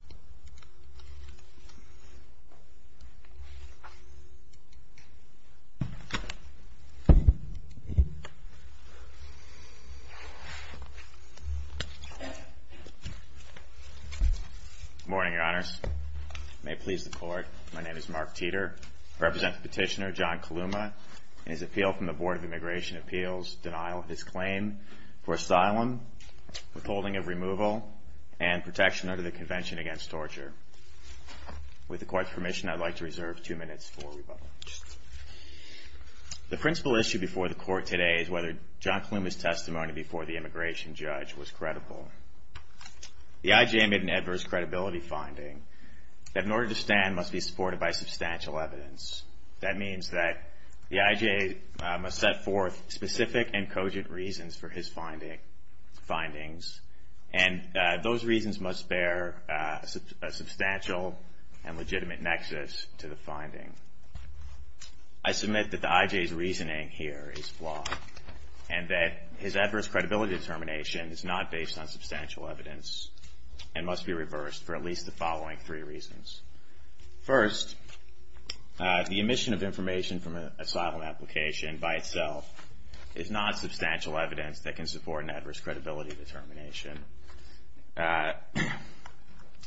Good morning, Your Honors. May it please the Court, my name is Mark Teeter. I represent Petitioner John Kalouma and his appeal from the Board of Immigration Appeals, denial of his claim for asylum, withholding of removal, and protection under the Convention Against Torture. With the Court's permission, I'd like to reserve two minutes for rebuttal. The principal issue before the Court today is whether John Kalouma's testimony before the immigration judge was credible. The IJA made an adverse credibility finding that in order to stand must be supported by substantial evidence. That means that the IJA must set forth specific and cogent reasons for his findings, and those reasons must bear a substantial and legitimate nexus to the finding. I submit that the IJA's reasoning here is flawed, and that his adverse credibility determination is not based on substantial evidence and must be reversed for at least the following three reasons. First, the omission of information from an asylum application by itself is not substantial evidence that can support an adverse credibility determination.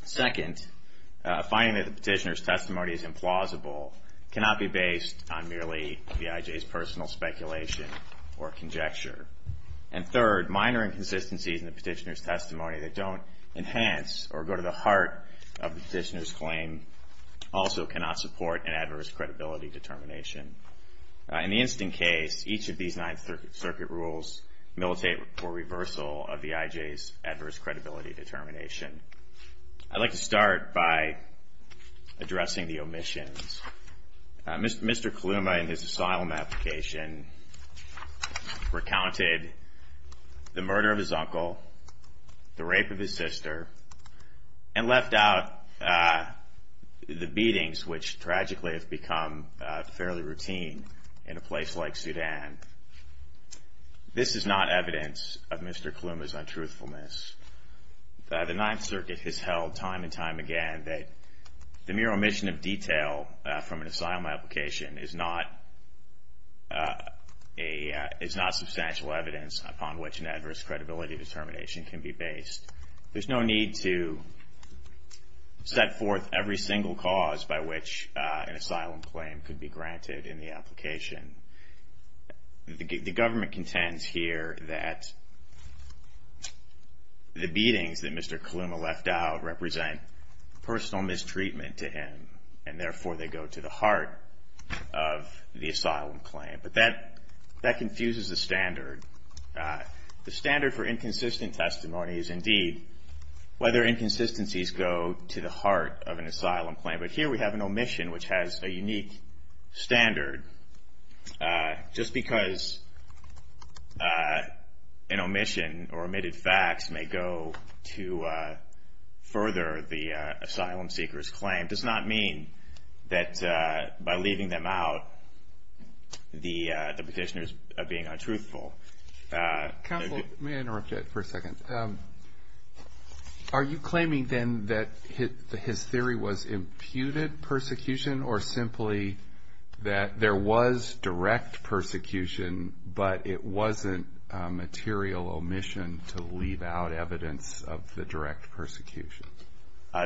Second, finding that the petitioner's testimony is implausible cannot be based on merely the IJA's personal speculation or conjecture. And third, minor inconsistencies in the petitioner's testimony that don't enhance or go to the heart of the petition. In the instant case, each of these Ninth Circuit rules militate for reversal of the IJA's adverse credibility determination. I'd like to start by addressing the omissions. Mr. Kalouma in his asylum application recounted the murder of his uncle, the rape of his sister, and left out the beatings, which tragically have become fairly routine in a place like Sudan. This is not evidence of Mr. Kalouma's untruthfulness. The Ninth Circuit has held time and time again that the mere omission of detail from an asylum application is not substantial evidence upon which an adverse credibility determination can be based. There's no need to set forth every single cause by which an asylum claim could be granted in the application. The government contends here that the beatings that Mr. Kalouma left out represent personal mistreatment to him, and therefore they go to the heart of the asylum claim. But that confuses the standard. The standard for inconsistent testimony is, indeed, whether inconsistencies go to the heart of an asylum claim. But here we have an omission, which has a unique standard. Just because an that by leaving them out, the petitioner's being untruthful. Counsel, may I interrupt you for a second? Are you claiming, then, that his theory was imputed persecution, or simply that there was direct persecution, but it wasn't a material omission to leave out evidence of the direct persecution?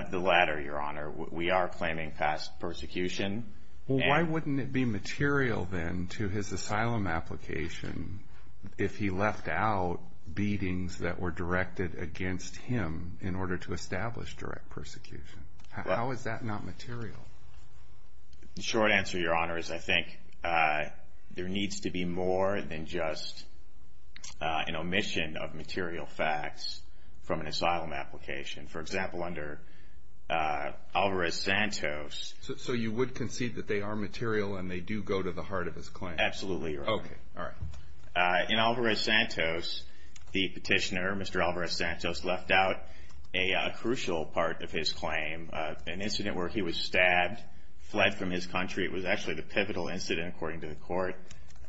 The latter, Your Honor. We are claiming past persecution. Well, why wouldn't it be material, then, to his asylum application if he left out beatings that were directed against him in order to establish direct persecution? How is that not material? The short answer, Your Honor, is I think there needs to be more than just an omission of material facts from an asylum application. For example, under Alvarez-Santos. So you would concede that they are material and they do go to the heart of his claim? Absolutely, Your Honor. Okay. All right. In Alvarez-Santos, the petitioner, Mr. Alvarez-Santos, left out a crucial part of his claim, an incident where he was stabbed, fled from his country. It was actually the pivotal incident, according to the court,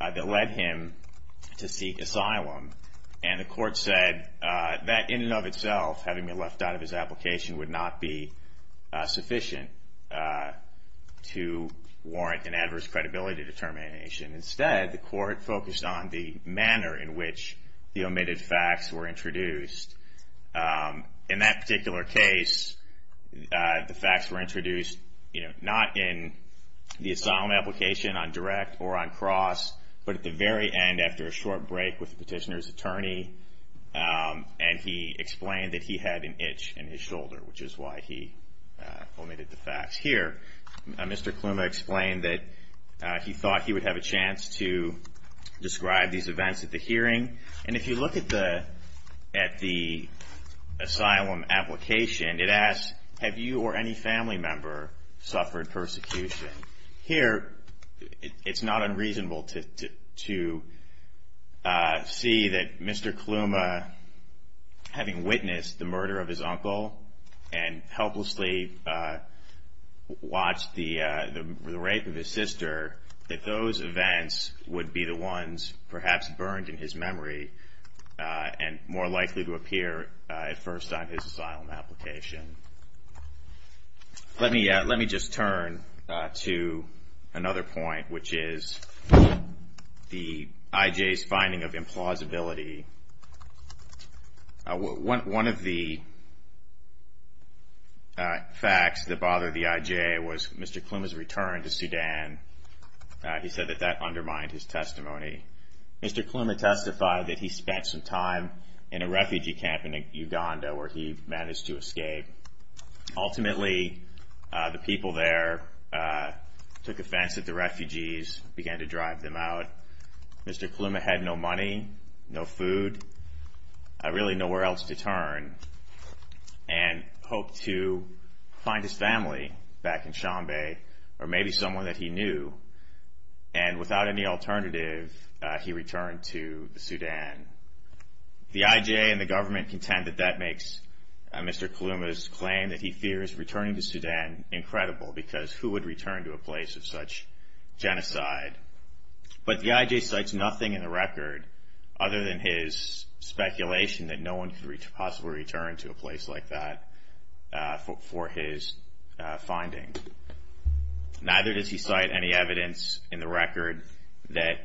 that led him to seek asylum. And the court said that, in and of itself, having been left out of his application would not be sufficient to warrant an adverse credibility determination. Instead, the court focused on the manner in which the omitted facts were introduced. In that particular case, the facts were introduced, you know, not in the asylum application on direct or on cross, but at the very end, after a short break with the petitioner's attorney. And he explained that he had an itch in his shoulder, which is why he omitted the facts here. Mr. Kluma explained that he thought he would have a chance to describe these events at the hearing. And if you look at the asylum application, it asks, have you or any family member suffered persecution? Here, it's not unreasonable to see that Mr. Kluma, having witnessed the murder of his uncle and helplessly watched the rape of his sister, that those events would be the ones perhaps burned in his memory and more likely to appear at first on his asylum application. Let me just turn to another point, which is the IJ's finding of implausibility. One of the facts that bothered the IJ was Mr. Kluma's return to Sudan. He said that that undermined his testimony. Mr. Kluma testified that he spent some time in a refugee camp in Uganda, where he managed to escape. Ultimately, the people there took offense at the refugees, began to drive them out. Mr. Kluma had no money, no food, really nowhere else to turn, and hoped to find his family back in Chambay, or maybe someone that he knew. And without any alternative, he returned to Sudan. The IJ and the government contend that that makes Mr. Kluma's claim that he fears returning to Sudan incredible, because who would return to a place of such genocide? But the IJ cites nothing in the record other than his speculation that no one could possibly return to a place like that for his findings. Neither does he cite any evidence in the record that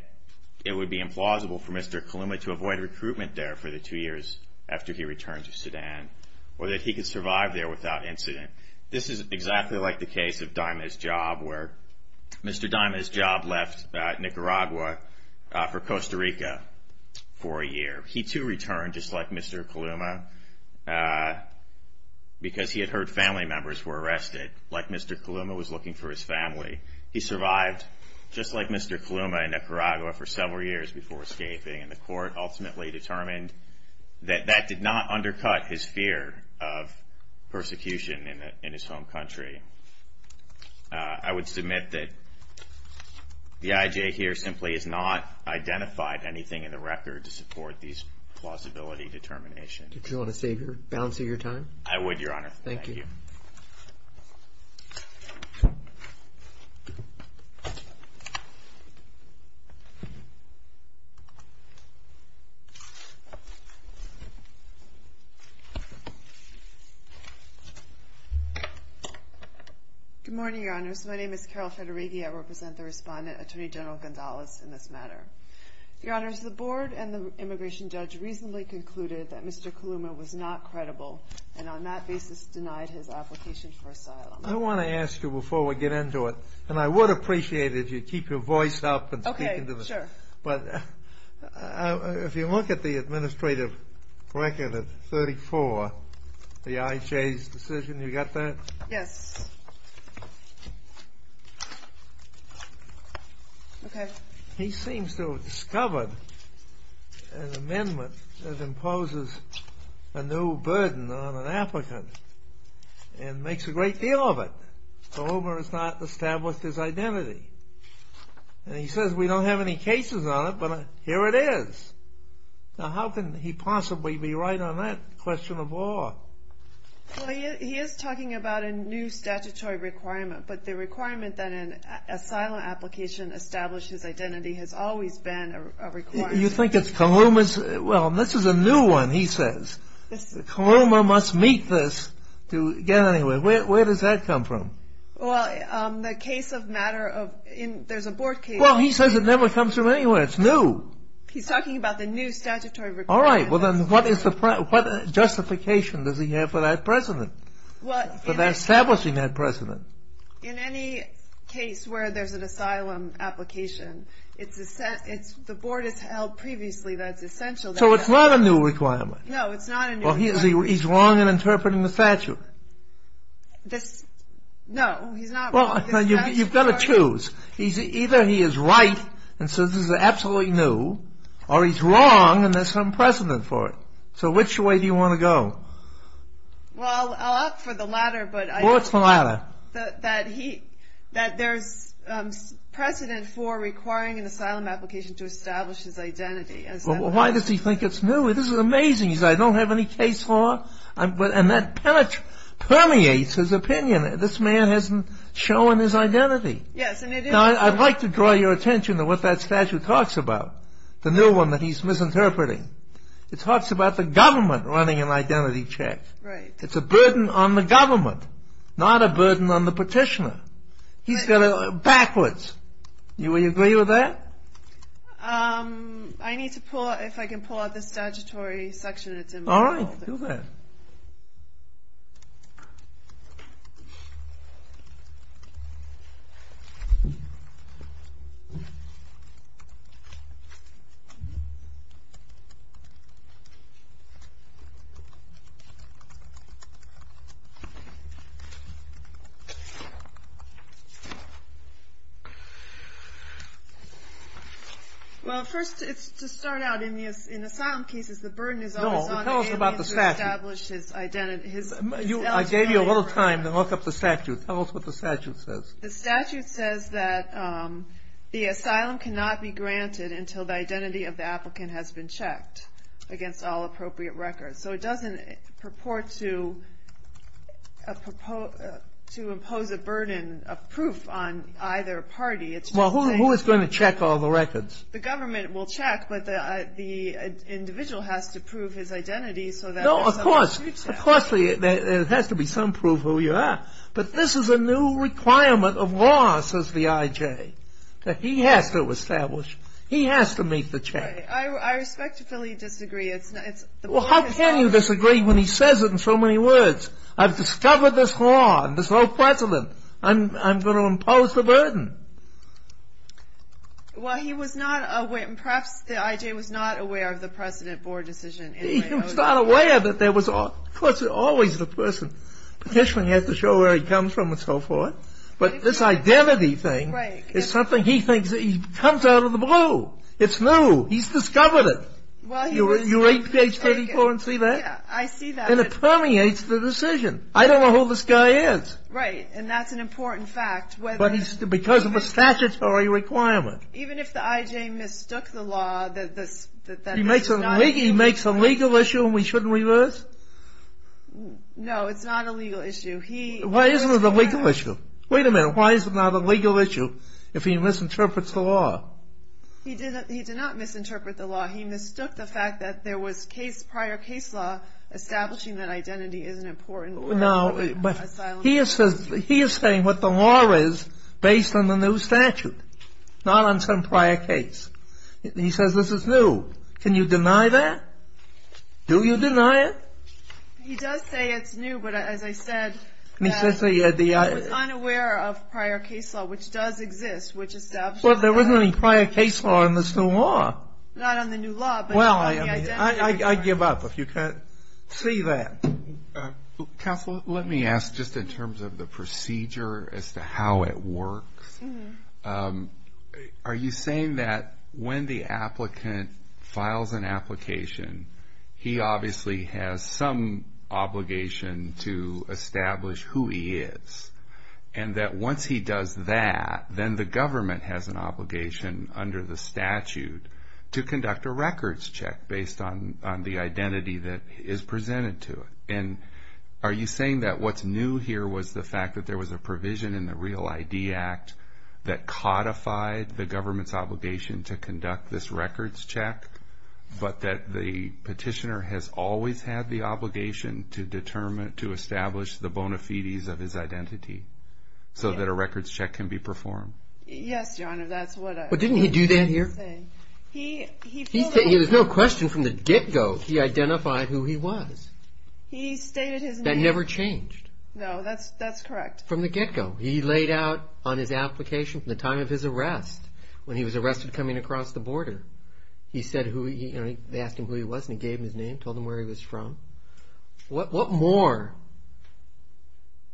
it would be implausible for Mr. Kluma to avoid recruitment there for the two years after he returned to Sudan, or that he could survive there without incident. This is exactly like the case of Daima's job, where Mr. Daima's job left Nicaragua for Costa Rica for a year. He, too, returned, just like Mr. Kluma, because he had heard family members were arrested, like Mr. Kluma was looking for his family. He survived, just like Mr. Kluma, in Nicaragua for several years before escaping. And the court ultimately determined that that did not undercut his fear of persecution in his home country. I would submit that the IJ here simply has not identified anything in the record to support these plausibility determinations. Do you want to save your balance of your time? I would, Your Honor. Thank you. Good morning, Your Honors. My name is Carol Federighi. I represent the respondent, Attorney General Gondalez, in this matter. Your Honors, the board and the immigration judge reasonably concluded that Mr. Kluma was not credible, and on that basis denied his application for asylum. I want to ask you, before we get into it, and I would appreciate it if you'd keep your voice up and speak into the... Okay, sure. But if you look at the administrative record of 34, the IJ's decision, you got that? Yes. Okay. He seems to have discovered an amendment that imposes a new burden on an applicant, and makes a great deal of it. So, Hoover has not established his identity. And he says, we don't have any cases on it, but here it is. Now, how can he possibly be right on that question of law? Well, he is talking about a new statutory requirement, but the requirement that an asylum application establishes identity has always been a requirement. You think it's Kluma's? Well, this is a new one, he says. Kluma must meet this to get anywhere. Where does that come from? Well, the case of matter of... there's a board case. Well, he says it never comes from anywhere. It's new. He's talking about the new statutory requirement. All right, well then, what justification does he have for that precedent? For establishing that precedent? In any case where there's an asylum application, the board has held previously that it's essential... So it's not a new requirement? No, it's not a new requirement. Well, he's wrong in interpreting the statute. No, he's not wrong. Well, you've got to choose. Either he is right and says this is absolutely new, or he's wrong and there's some precedent for it. So which way do you want to go? Well, I'll opt for the latter, but... What's the latter? That there's precedent for requiring an asylum application to establish his identity. Well, why does he think it's new? This is amazing. He says, I don't have any case for it? And that permeates his opinion. This man hasn't shown his identity. Now, I'd like to draw your attention to what that statute talks about. The new one that he's misinterpreting. It talks about the government running an identity check. It's a burden on the government, not a burden on the petitioner. He's got it backwards. Do you agree with that? I need to pull out... If I can pull out the statutory section, it's involved. All right, do that. Well, first, to start out, in asylum cases, the burden is always on the family to establish his identity. I gave you a little time to look up the statute. Tell us what the statute says. The statute says that the asylum cannot be granted until the identity of the applicant has been checked against all appropriate records. So it doesn't purport to impose a burden of proof on either party. Well, who is going to check all the records? The government will check, but the individual has to prove his identity. No, of course. There has to be some proof who you are. But this is a new requirement of law, says the IJ. He has to establish. He has to meet the check. I respectfully disagree. Well, how can you disagree when he says it in so many words? I've discovered this law. I'm going to impose the burden. Well, he was not aware. Perhaps the IJ was not aware of the precedent board decision. He was not aware that there was always the person. The petitioner has to show where he comes from and so forth. But this identity thing is something he thinks comes out of the blue. It's new. He's discovered it. You read page 34 and see that? Yeah, I see that. And it permeates the decision. I don't know who this guy is. Right, and that's an important fact. Because of a statutory requirement. Even if the IJ mistook the law, that this is not illegal. He makes a legal issue and we shouldn't reverse? No, it's not a legal issue. Why isn't it a legal issue? Wait a minute. Why is it not a legal issue if he misinterprets the law? He did not misinterpret the law. He mistook the fact that there was prior case law establishing that identity is an important word. He is saying what the law is based on the new statute. Not on some prior case. He says this is new. Can you deny that? Do you deny it? He does say it's new, but as I said, he was unaware of prior case law, which does exist. There isn't any prior case law in this new law. Not on the new law, but on the identity. I give up if you can't see that. Counsel, let me ask just in terms of the procedure as to how it works. Are you saying that when the applicant files an application, he obviously has some obligation to establish who he is? And that once he does that, then the government has an obligation under the statute to conduct a records check based on the identity that is presented to it. And are you saying that what's new here was the fact that there was a provision in the Real ID Act that codified the government's obligation to conduct this records check, but that the petitioner has always had the obligation to establish the bona fides of his identity so that a records check can be performed? Yes, Your Honor. But didn't he do that here? There's no question from the get-go he identified who he was. He stated his name. That never changed. No, that's correct. From the get-go. He laid out on his application from the time of his arrest, when he was arrested coming across the border. They asked him who he was, and he gave them his name, told them where he was from. What more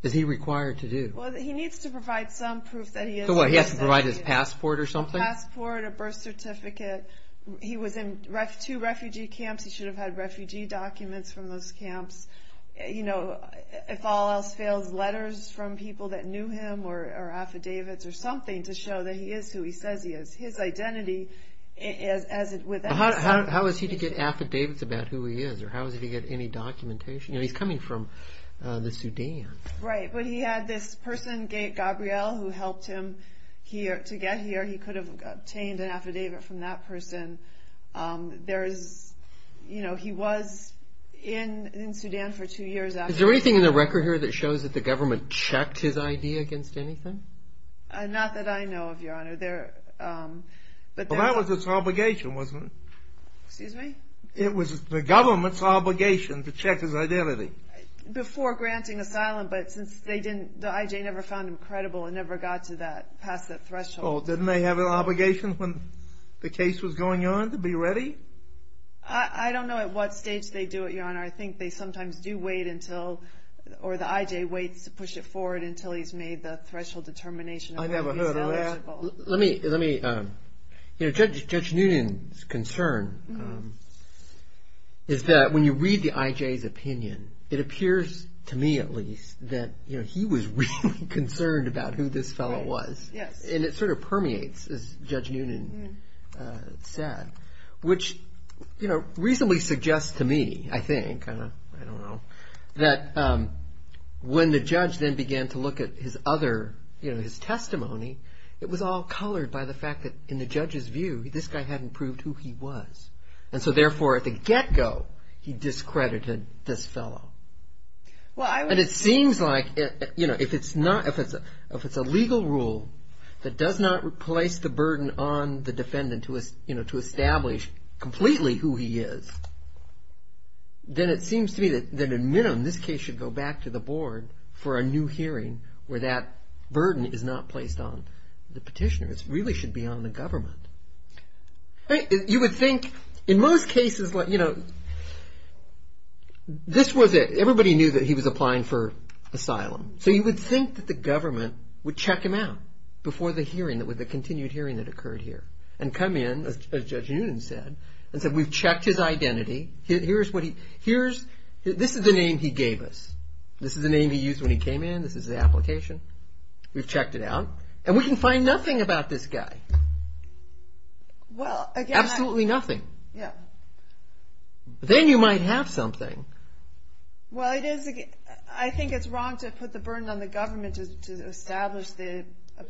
is he required to do? He needs to provide some proof that he is. He has to provide his passport or something? Passport, a birth certificate. He was in two refugee camps. He should have had refugee documents from those camps. If all else fails, letters from people that knew him or affidavits or something to show that he is who he says he is. His identity is as it was. How was he to get affidavits about who he is? Or how was he to get any documentation? He's coming from the Sudan. Right, but he had this person, Gabriel, who helped him to get here. He could have obtained an affidavit from that person. He was in Sudan for two years after that. Is there anything in the record here that shows that the government checked his ID against anything? Not that I know of, Your Honor. That was his obligation, wasn't it? Excuse me? It was the government's obligation to check his identity. Before granting asylum, but since the I.J. never found him credible and never got past that threshold. Didn't they have an obligation when the case was going on to be ready? I don't know at what stage they do it, Your Honor. I think they sometimes do wait until, or the I.J. waits to push it forward until he's made the threshold determination of whether he's eligible. I never heard of that. Judge Noonan's concern is that when you read the I.J.'s opinion, it appears, to me at least, that he was really concerned about who this fellow was. And it sort of permeates, as Judge Noonan said, which reasonably suggests to me, I think, that when the judge then began to look at his other, you know, his testimony, it was all colored by the fact that in the judge's view, this guy hadn't proved who he was. And so therefore, at the get-go, he discredited this fellow. And it seems like, you know, if it's a legal rule that does not replace the burden on the defendant to establish completely who he is, then it seems to me that in minimum, this case should go back to the board for a new hearing where that burden is not placed on the petitioner. It really should be on the government. You would think, in most cases, you know, this was it. Everybody knew that he was applying for asylum. So you would think that the government would check him out before the hearing, the continued hearing that occurred here. And come in, as Judge Noonan said, and said, we've checked his identity. This is the name he gave us. This is the name he used when he came in. This is the application. We've checked it out. And we can find nothing about this guy. Absolutely nothing. Then you might have something. Well, I think it's wrong to put the burden on the government to establish the...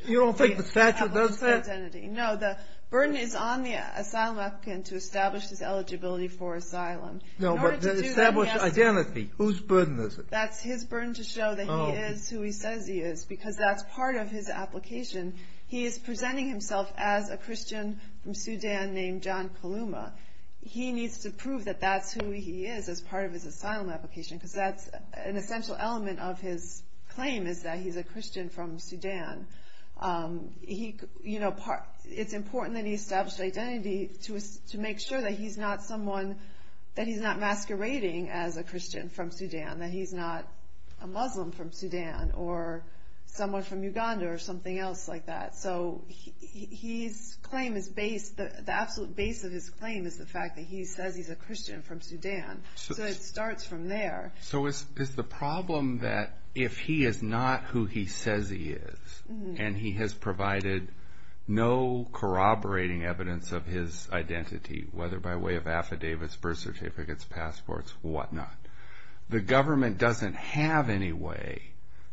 You don't think the statute does that? No, the burden is on the asylum applicant to establish his eligibility for asylum. No, but to establish identity. Whose burden is it? That's his burden to show that he is who he says he is because that's part of his application. He is presenting himself as a Christian from Sudan named John Kaluma. He needs to prove that that's who he is as part of his asylum application because that's an essential element of his claim is that he's a Christian from Sudan. It's important that he establishes identity to make sure that he's not someone... that he's not masquerading as a Christian from Sudan, that he's not a Muslim from Sudan or someone from Uganda or something else like that. So the absolute base of his claim is the fact that he says he's a Christian from Sudan. So it starts from there. So is the problem that if he is not who he says he is and he has provided no corroborating evidence of his identity, whether by way of affidavits, birth certificates, passports, whatnot, the government doesn't have any way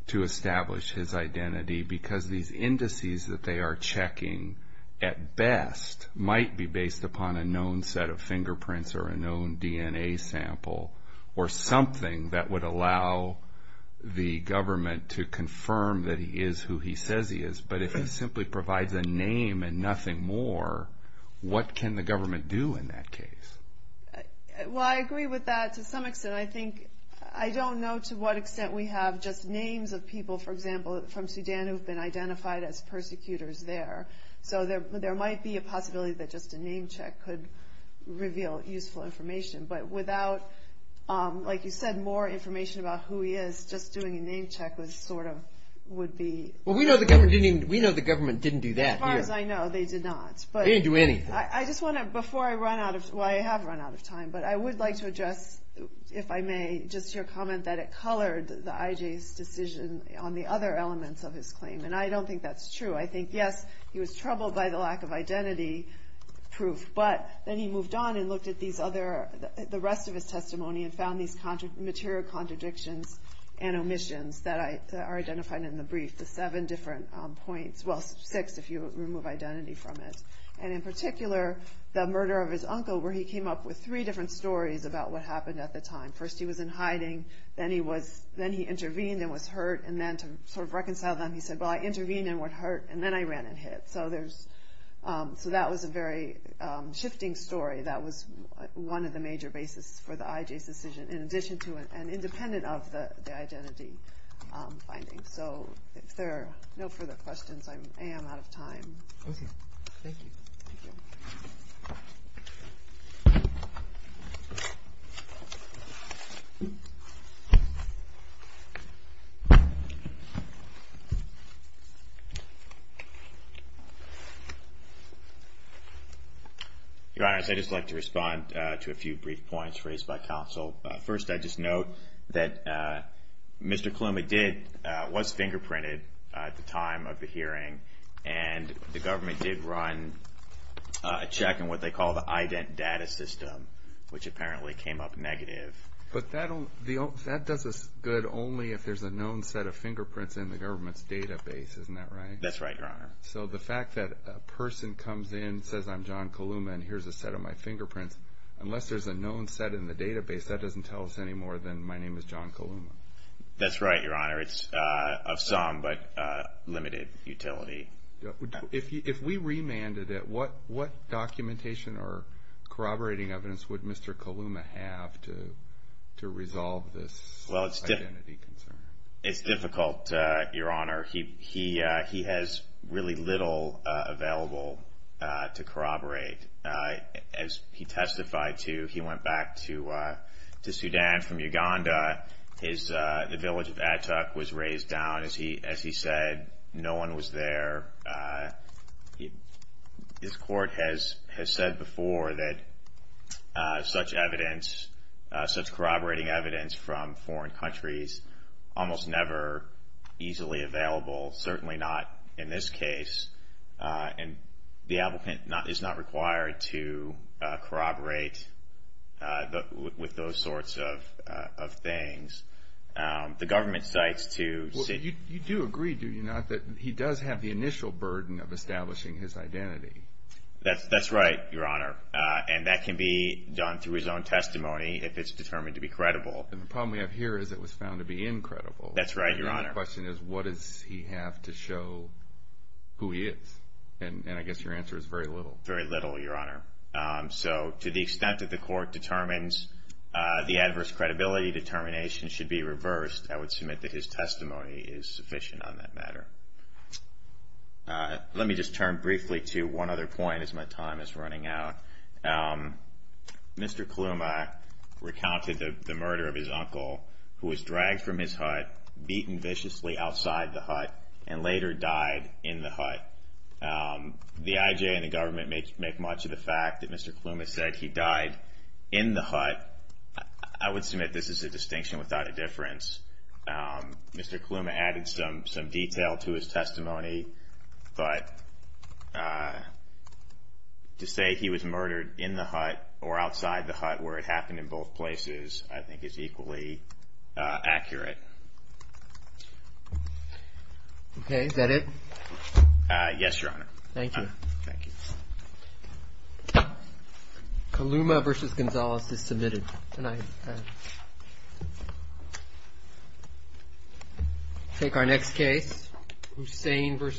to establish his identity because these indices that they are checking at best might be based upon a known set of fingerprints or a known DNA sample or something that would allow the government to confirm that he is who he says he is. But if he simply provides a name and nothing more, what can the government do in that case? Well, I agree with that to some extent. I don't know to what extent we have just names of people, for example, from Sudan who have been identified as persecutors there. So there might be a possibility that just a name check could reveal useful information. But without, like you said, more information about who he is, just doing a name check would be... We know the government didn't do that. As far as I know, they did not. They didn't do anything. I have run out of time, but I would like to address, if I may, just your comment that it colored the IJ's decision on the other elements of his claim. And I don't think that's true. I think, yes, he was troubled by the lack of identity proof, but then he moved on and looked at the rest of his testimony and found these material contradictions and omissions that are identified in the brief, the seven different points. Well, six if you remove identity from it. And in particular, the murder of his uncle, where he came up with three different stories about what happened at the time. First he was in hiding, then he intervened and was hurt, and then to sort of reconcile them, he said, well, I intervened and was hurt, and then I ran and hid. So that was a very shifting story that was one of the major basis for the IJ's decision in addition to and independent of the identity findings. So if there are no further questions, I am out of time. Okay. Thank you. Thank you. Your Honor, I'd just like to respond to a few brief points raised by counsel. First, I'd just note that Mr. Coloma did, and the government did run a check on what they call the IDENT data system, which apparently came up negative. But that does us good only if there's a known set of fingerprints in the government's database. Isn't that right? That's right, Your Honor. So the fact that a person comes in, says I'm John Coloma, and here's a set of my fingerprints, unless there's a known set in the database, that doesn't tell us any more than my name is John Coloma. That's right, Your Honor. It's of some but limited utility. If we remanded it, what documentation or corroborating evidence would Mr. Coloma have to resolve this identity concern? It's difficult, Your Honor. He has really little available to corroborate. As he testified to, he went back to Sudan from Uganda. The village of Atuk was razed down. As he said, no one was there. His court has said before that such evidence, such corroborating evidence from foreign countries, almost never easily available, certainly not in this case. And the applicant is not required to corroborate with those sorts of things. The government cites to... You do agree, do you not, that he does have the initial burden of establishing his identity? That's right, Your Honor. And that can be done through his own testimony if it's determined to be credible. The problem we have here is it was found to be incredible. That's right, Your Honor. The question is what does he have to show who he is? And I guess your answer is very little. Very little, Your Honor. So to the extent that the court determines the adverse credibility determination should be reversed, I would submit that his testimony is sufficient on that matter. Let me just turn briefly to one other point as my time is running out. Mr. Kaluma recounted the murder of his uncle who was dragged from his hut, beaten viciously outside the hut, and later died in the hut. The IJ and the government make much of the fact that Mr. Kaluma said he died in the hut. I would submit this is a distinction without a difference. Mr. Kaluma added some detail to his testimony, but to say he was murdered in the hut or outside the hut where it happened in both places I think is equally accurate. Okay, is that it? Yes, Your Honor. Thank you. Kaluma v. Gonzalez is submitted. We'll take our next case, Hussain v. Gonzalez.